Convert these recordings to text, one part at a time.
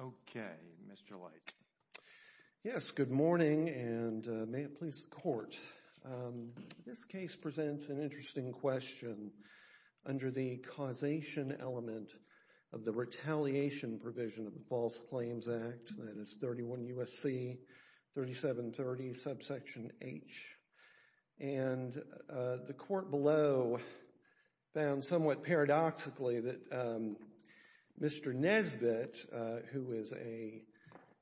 Okay, Mr. Light. Yes, good morning and may it please the court. This case presents an interesting question under the causation element of the retaliation provision of the False Provision. It is somewhat paradoxically that Mr. Nesbitt, who is an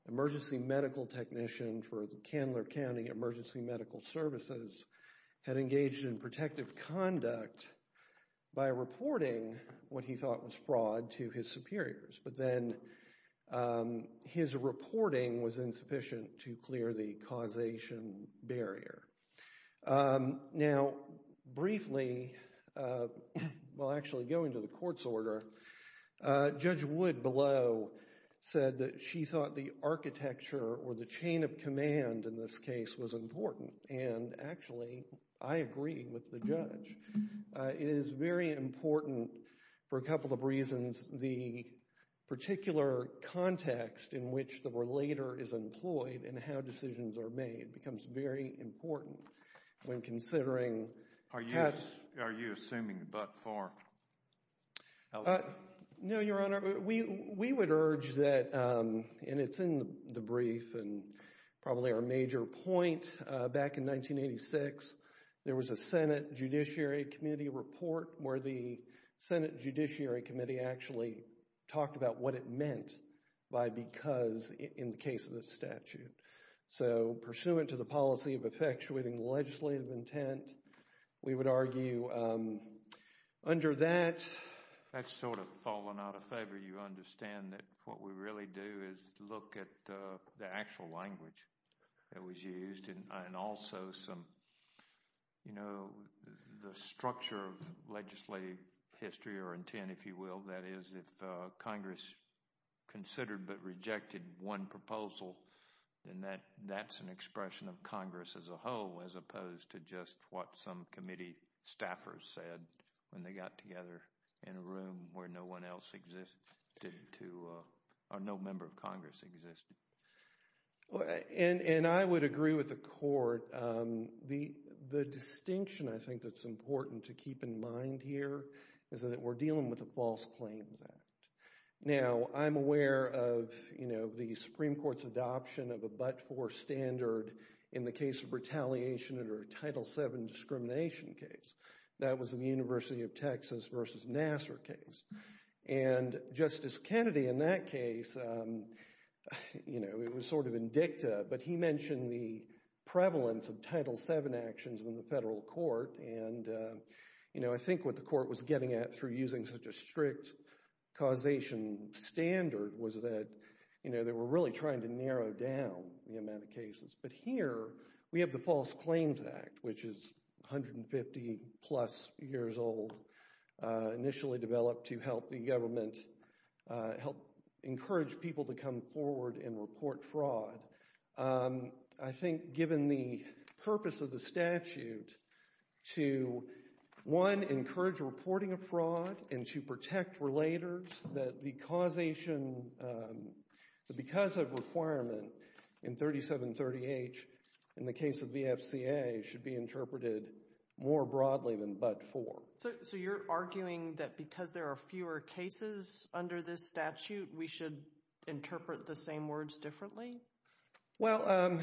emergency medical technician for Candler County Emergency Medical Services, had engaged in protective conduct by reporting what he thought was fraud to his superiors, but then his reporting was insufficient to clear the causation barrier. Now, briefly, while actually going to the court's order, Judge Wood below said that she thought the architecture or the chain of command in this case was important. And actually, I agree with the judge. It is very important for a couple of reasons. One is the particular context in which the relator is employed and how decisions are made becomes very important when considering... Are you assuming but for? No, Your Honor. We would urge that, and it's in the brief and probably our major point, back in 1986, there was a Senate Judiciary Committee report where the Senate Judiciary Committee actually talked about what it meant by because in the case of this statute. So, pursuant to the policy of effectuating legislative intent, we would argue under that... And that's an expression of Congress as a whole as opposed to just what some committee staffers said when they got together in a room where no one else existed to... or no member of Congress existed. And I would agree with the court. The distinction, I think, that's important to keep in mind here is that we're dealing with a False Claims Act. Now, I'm aware of the Supreme Court's adoption of a but-for standard in the case of retaliation under a Title VII discrimination case. That was in the University of Texas versus Nassar case. And Justice Kennedy in that case, it was sort of in dicta, but he mentioned the prevalence of Title VII actions in the federal court. And I think what the court was getting at through using such a strict causation standard was that they were really trying to narrow down the amount of cases. But here we have the False Claims Act, which is 150-plus years old, initially developed to help the government, help encourage people to come forward and report fraud. I think given the purpose of the statute to, one, encourage reporting of fraud and to protect relators, that the causation—because of requirement in 3730H in the case of the FCA should be interpreted more broadly than but-for. So you're arguing that because there are fewer cases under this statute, we should interpret the same words differently? Well,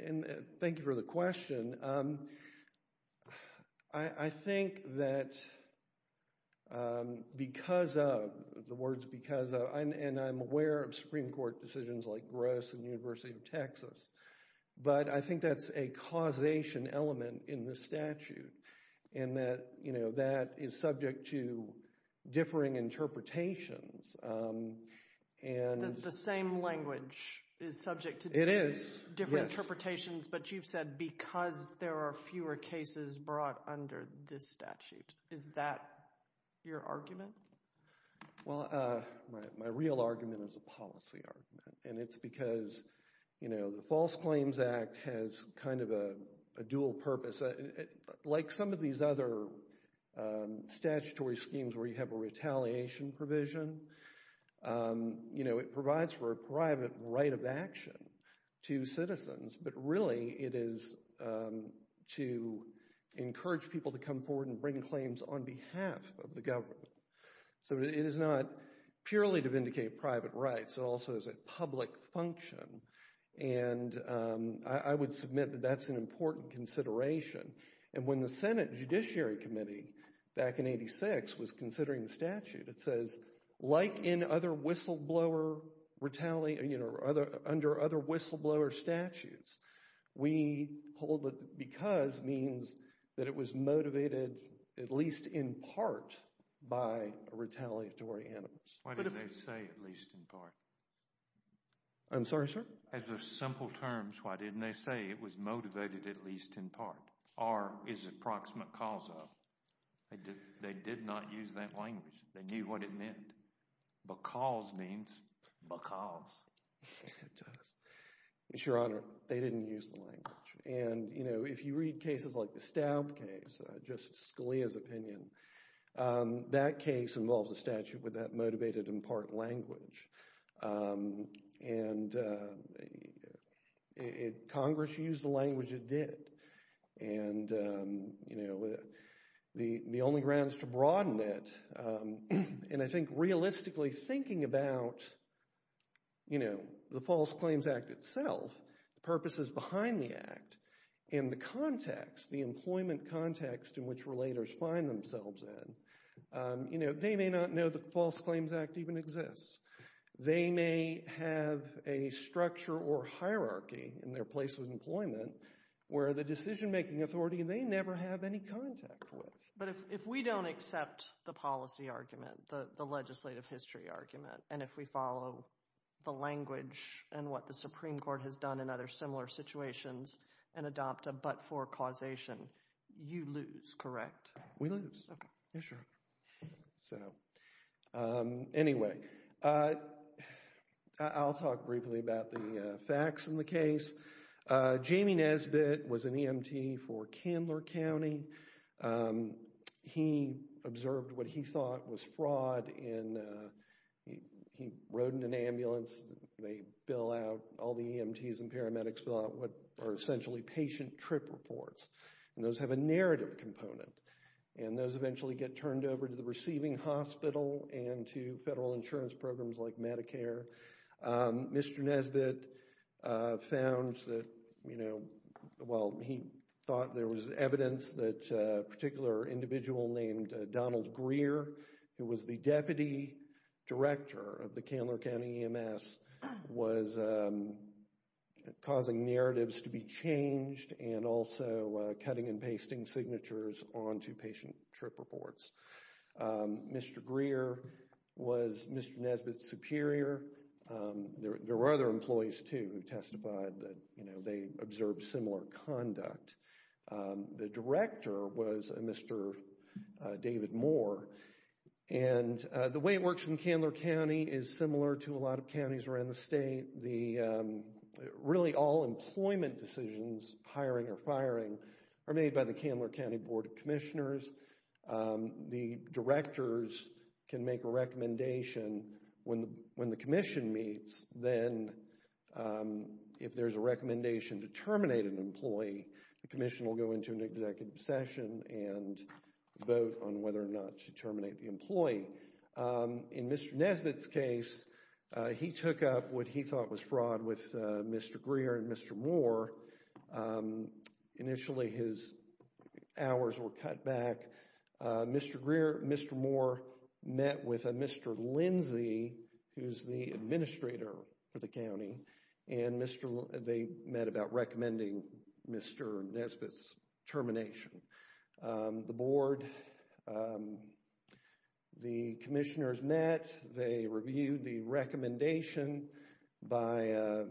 and thank you for the question. I think that because of—the words because of—and I'm aware of Supreme Court decisions like Gross and University of Texas. But I think that's a causation element in the statute in that that is subject to differing interpretations. The same language is subject to different interpretations, but you've said because there are fewer cases brought under this statute. Is that your argument? Well, my real argument is a policy argument, and it's because the False Claims Act has kind of a dual purpose. Like some of these other statutory schemes where you have a retaliation provision, it provides for a private right of action to citizens. But really, it is to encourage people to come forward and bring claims on behalf of the government. So it is not purely to vindicate private rights. It also is a public function, and I would submit that that's an important consideration. And when the Senate Judiciary Committee, back in 1986, was considering the statute, it says, like in other whistleblower—under other whistleblower statutes, we hold that because means that it was motivated at least in part by a retaliatory animus. Why didn't they say at least in part? I'm sorry, sir? As a simple term, why didn't they say it was motivated at least in part? Or is it proximate causa? They did not use that language. They knew what it meant. Because means because. It does. Your Honor, they didn't use the language. And, you know, if you read cases like the Staub case, Justice Scalia's opinion, that case involves a statute with that motivated in part language. And Congress used the language it did. And, you know, the only grounds to broaden it, and I think realistically thinking about, you know, the False Claims Act itself, the purposes behind the act, and the context, the employment context in which relators find themselves in, you know, they may not know the False Claims Act even exists. They may have a structure or hierarchy in their place of employment where the decision-making authority may never have any contact with. But if we don't accept the policy argument, the legislative history argument, and if we follow the language and what the Supreme Court has done in other similar situations and adopt a but-for causation, you lose, correct? We lose. You're sure. So, anyway, I'll talk briefly about the facts in the case. Jamie Nesbitt was an EMT for Candler County. He observed what he thought was fraud and he rode in an ambulance. They bill out, all the EMTs and paramedics bill out what are essentially patient trip reports. And those have a narrative component. And those eventually get turned over to the receiving hospital and to federal insurance programs like Medicare. Mr. Nesbitt found that, you know, well, he thought there was evidence that a particular individual named Donald Greer, who was the deputy director of the Candler County EMS, was causing narratives to be changed and also cutting and pasting signatures onto patient trip reports. Mr. Greer was Mr. Nesbitt's superior. There were other employees, too, who testified that, you know, they observed similar conduct. The director was Mr. David Moore. And the way it works in Candler County is similar to a lot of counties around the state. Really, all employment decisions, hiring or firing, are made by the Candler County Board of Commissioners. The directors can make a recommendation. When the commission meets, then if there's a recommendation to terminate an employee, the commission will go into an executive session and vote on whether or not to terminate the employee. In Mr. Nesbitt's case, he took up what he thought was fraud with Mr. Greer and Mr. Moore. Initially, his hours were cut back. Mr. Greer and Mr. Moore met with Mr. Lindsay, who's the administrator for the county, and they met about recommending Mr. Nesbitt's termination. The board, the commissioners met. They reviewed the recommendation by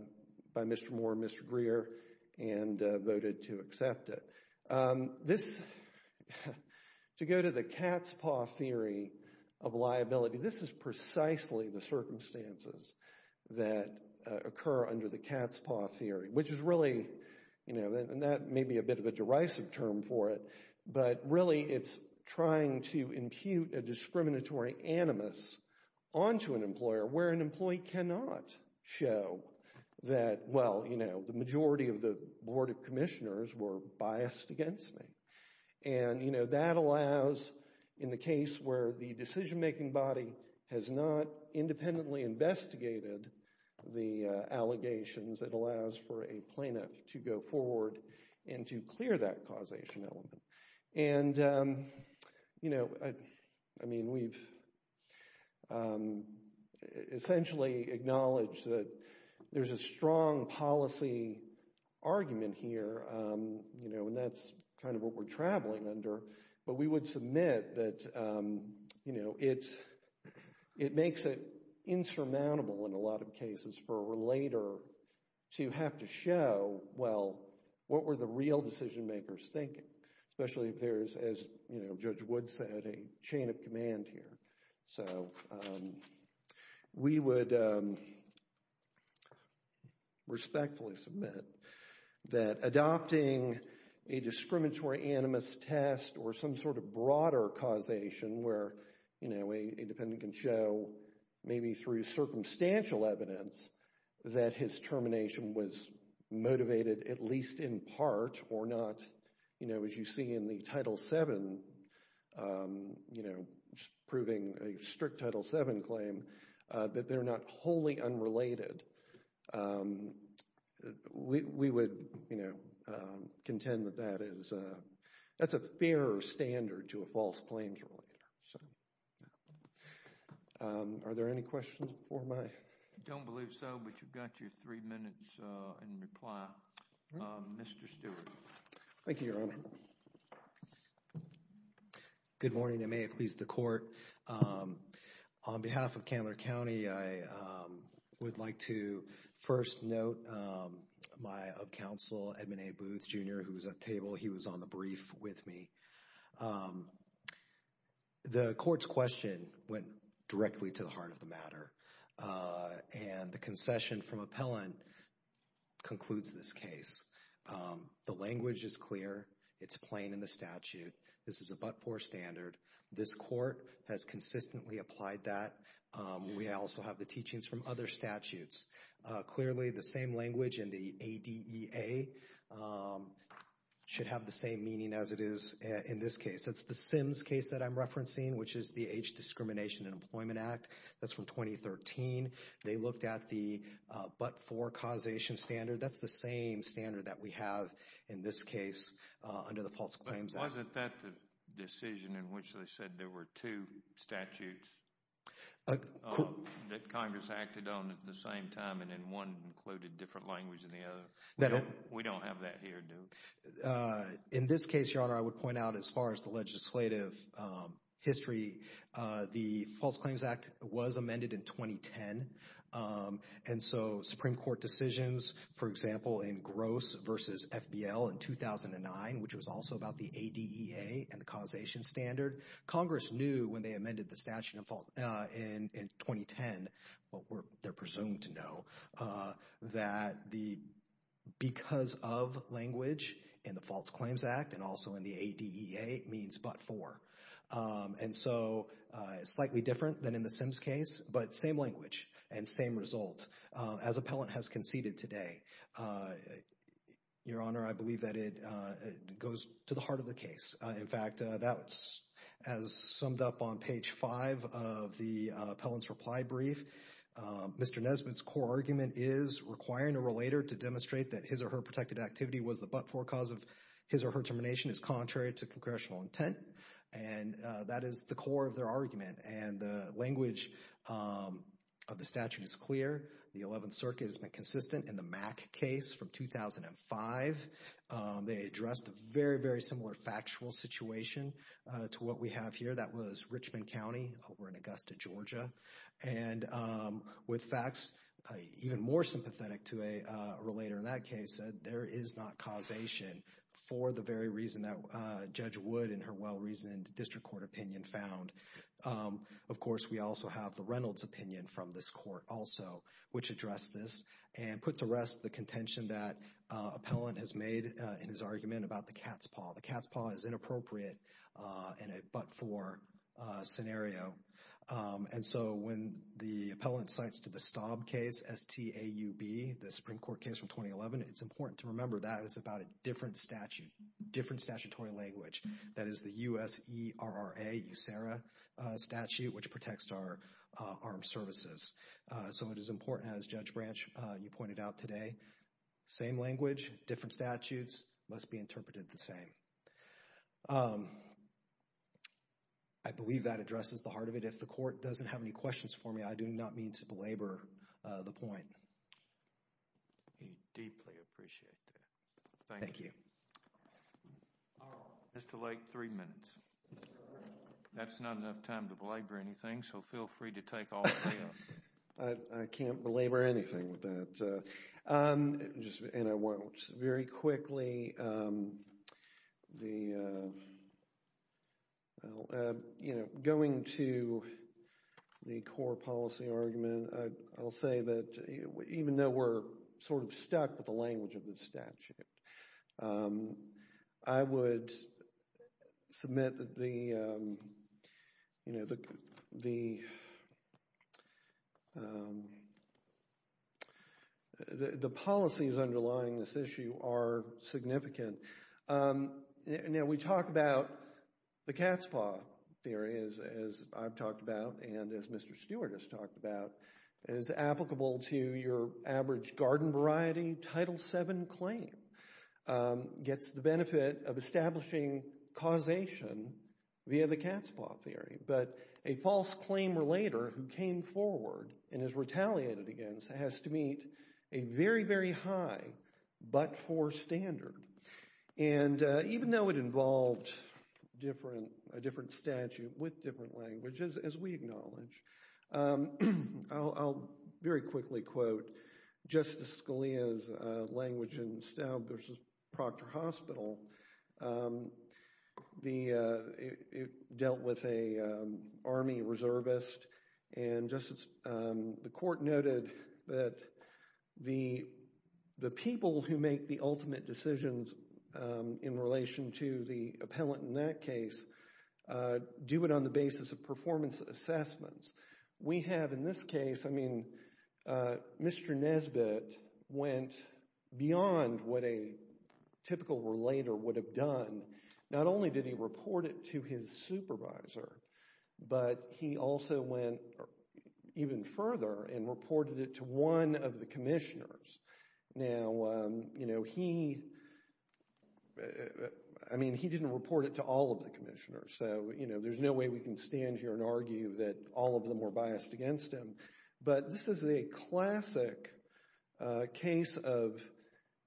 Mr. Moore and Mr. Greer and voted to accept it. This, to go to the cat's paw theory of liability, this is precisely the circumstances that occur under the cat's paw theory, which is really, you know, and that may be a bit of a derisive term for it. But really, it's trying to impute a discriminatory animus onto an employer where an employee cannot show that, well, you know, the majority of the board of commissioners were biased against me. And, you know, that allows, in the case where the decision-making body has not independently investigated the allegations, it allows for a plaintiff to go forward and to clear that causation element. And, you know, I mean, we've essentially acknowledged that there's a strong policy argument here, you know, and that's kind of what we're traveling under. But we would submit that, you know, it makes it insurmountable in a lot of cases for a relator to have to show, well, what were the real decision-makers thinking? Especially if there's, as, you know, Judge Wood said, a chain of command here. So, we would respectfully submit that adopting a discriminatory animus test or some sort of broader causation where, you know, a dependent can show, maybe through circumstantial evidence, that his termination was motivated at least in part or not, you know, as you see in the Title VII, you know, proving a strict Title VII claim, that they're not wholly unrelated. We would, you know, contend that that is, that's a fair standard to a false claims relator. So, yeah. Are there any questions before my… I don't believe so, but you've got your three minutes in reply. Mr. Stewart. Thank you, Your Honor. Good morning, and may it please the Court. On behalf of Candler County, I would like to first note my, of counsel, Edmund A. Booth, Jr., who was at the table. He was on the brief with me. The Court's question went directly to the heart of the matter, and the concession from appellant concludes this case. The language is clear. It's plain in the statute. This is a but-for standard. This Court has consistently applied that. We also have the teachings from other statutes. Clearly, the same language in the ADEA should have the same meaning as it is in this case. That's the Sims case that I'm referencing, which is the Age Discrimination and Employment Act. That's from 2013. They looked at the but-for causation standard. That's the same standard that we have in this case under the False Claims Act. But wasn't that the decision in which they said there were two statutes that Congress acted on at the same time and then one included different language in the other? We don't have that here, do we? In this case, Your Honor, I would point out as far as the legislative history, the False Claims Act was amended in 2010. And so Supreme Court decisions, for example, in Gross v. FBL in 2009, which was also about the ADEA and the causation standard, Congress knew when they amended the statute in 2010, what they're presumed to know, that the because-of language in the False Claims Act and also in the ADEA means but-for. And so it's slightly different than in the Sims case, but same language and same result as appellant has conceded today. Your Honor, I believe that it goes to the heart of the case. In fact, that's as summed up on page 5 of the appellant's reply brief. Mr. Nesbitt's core argument is requiring a relator to demonstrate that his or her protected activity was the but-for cause of his or her termination is contrary to congressional intent. And that is the core of their argument. And the language of the statute is clear. The 11th Circuit has been consistent in the Mack case from 2005. They addressed a very, very similar factual situation to what we have here. That was Richmond County over in Augusta, Georgia. And with facts even more sympathetic to a relator in that case said there is not causation for the very reason that Judge Wood in her well-reasoned district court opinion found. Of course, we also have the Reynolds opinion from this court also, which addressed this and put to rest the contention that appellant has made in his argument about the cat's paw. The cat's paw is inappropriate in a but-for scenario. And so when the appellant cites to the Staub case, S-T-A-U-B, the Supreme Court case from 2011, it's important to remember that is about a different statute, different statutory language. That is the U-S-E-R-R-A, USERRA statute, which protects our armed services. So it is important, as Judge Branch, you pointed out today, same language, different statutes must be interpreted the same. I believe that addresses the heart of it. If the court doesn't have any questions for me, I do not mean to belabor the point. We deeply appreciate that. Thank you. Mr. Lake, three minutes. That's not enough time to belabor anything, so feel free to take all three of them. I can't belabor anything with that. And I won't. Just very quickly, going to the core policy argument, I'll say that even though we're sort of stuck with the language of the statute, I would submit that the policies underlying this issue are significant. Now we talk about the cat's paw theory, as I've talked about and as Mr. Stewart has talked about, as applicable to your average garden variety, Title VII claim gets the benefit of establishing causation via the cat's paw theory. But a false claim relater who came forward and is retaliated against has to meet a very, very high but-for standard. And even though it involved a different statute with different languages, as we acknowledge, I'll very quickly quote Justice Scalia's language in Staub v. Proctor Hospital. It dealt with an Army reservist, and the court noted that the people who make the ultimate decisions in relation to the appellant in that case do it on the basis of performance assessments. We have in this case, I mean, Mr. Nesbitt went beyond what a typical relater would have done. Not only did he report it to his supervisor, but he also went even further and reported it to one of the commissioners. Now, you know, he, I mean, he didn't report it to all of the commissioners. So, you know, there's no way we can stand here and argue that all of them were biased against him. But this is a classic case of,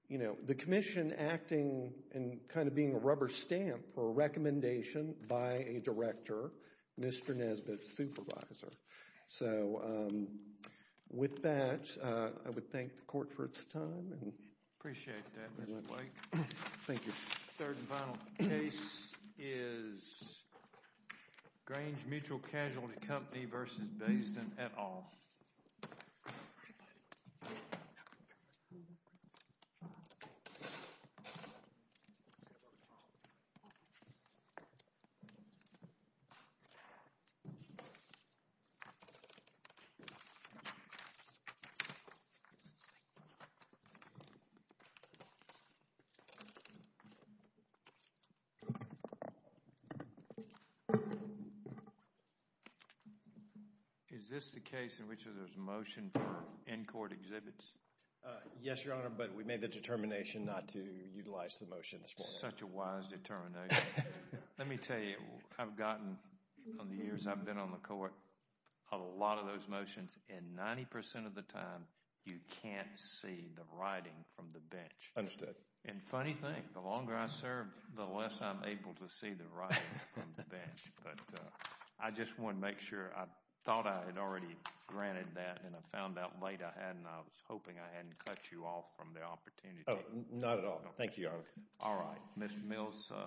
you know, the commission acting and kind of being a rubber stamp for a recommendation by a director, Mr. Nesbitt's supervisor. So, with that, I would thank the court for its time. Appreciate that, Mr. Blake. Thank you. Third and final case is Grange Mutual Casualty Company v. Bayston et al. Is this the case in which there's a motion to end court exhibits? Yes, Your Honor, but we made the determination not to utilize the motion at this point. Such a wise determination. Let me tell you, I've gotten, from the years I've been on the court, a lot of those motions, and 90% of the time, you can't see the writing from the bench. Understood. And funny thing, the longer I serve, the less I'm able to see the writing from the bench. But I just want to make sure, I thought I had already granted that, and I found out late I hadn't. I was hoping I hadn't cut you off from the opportunity. Thank you, Your Honor. All right. Ms. Mills.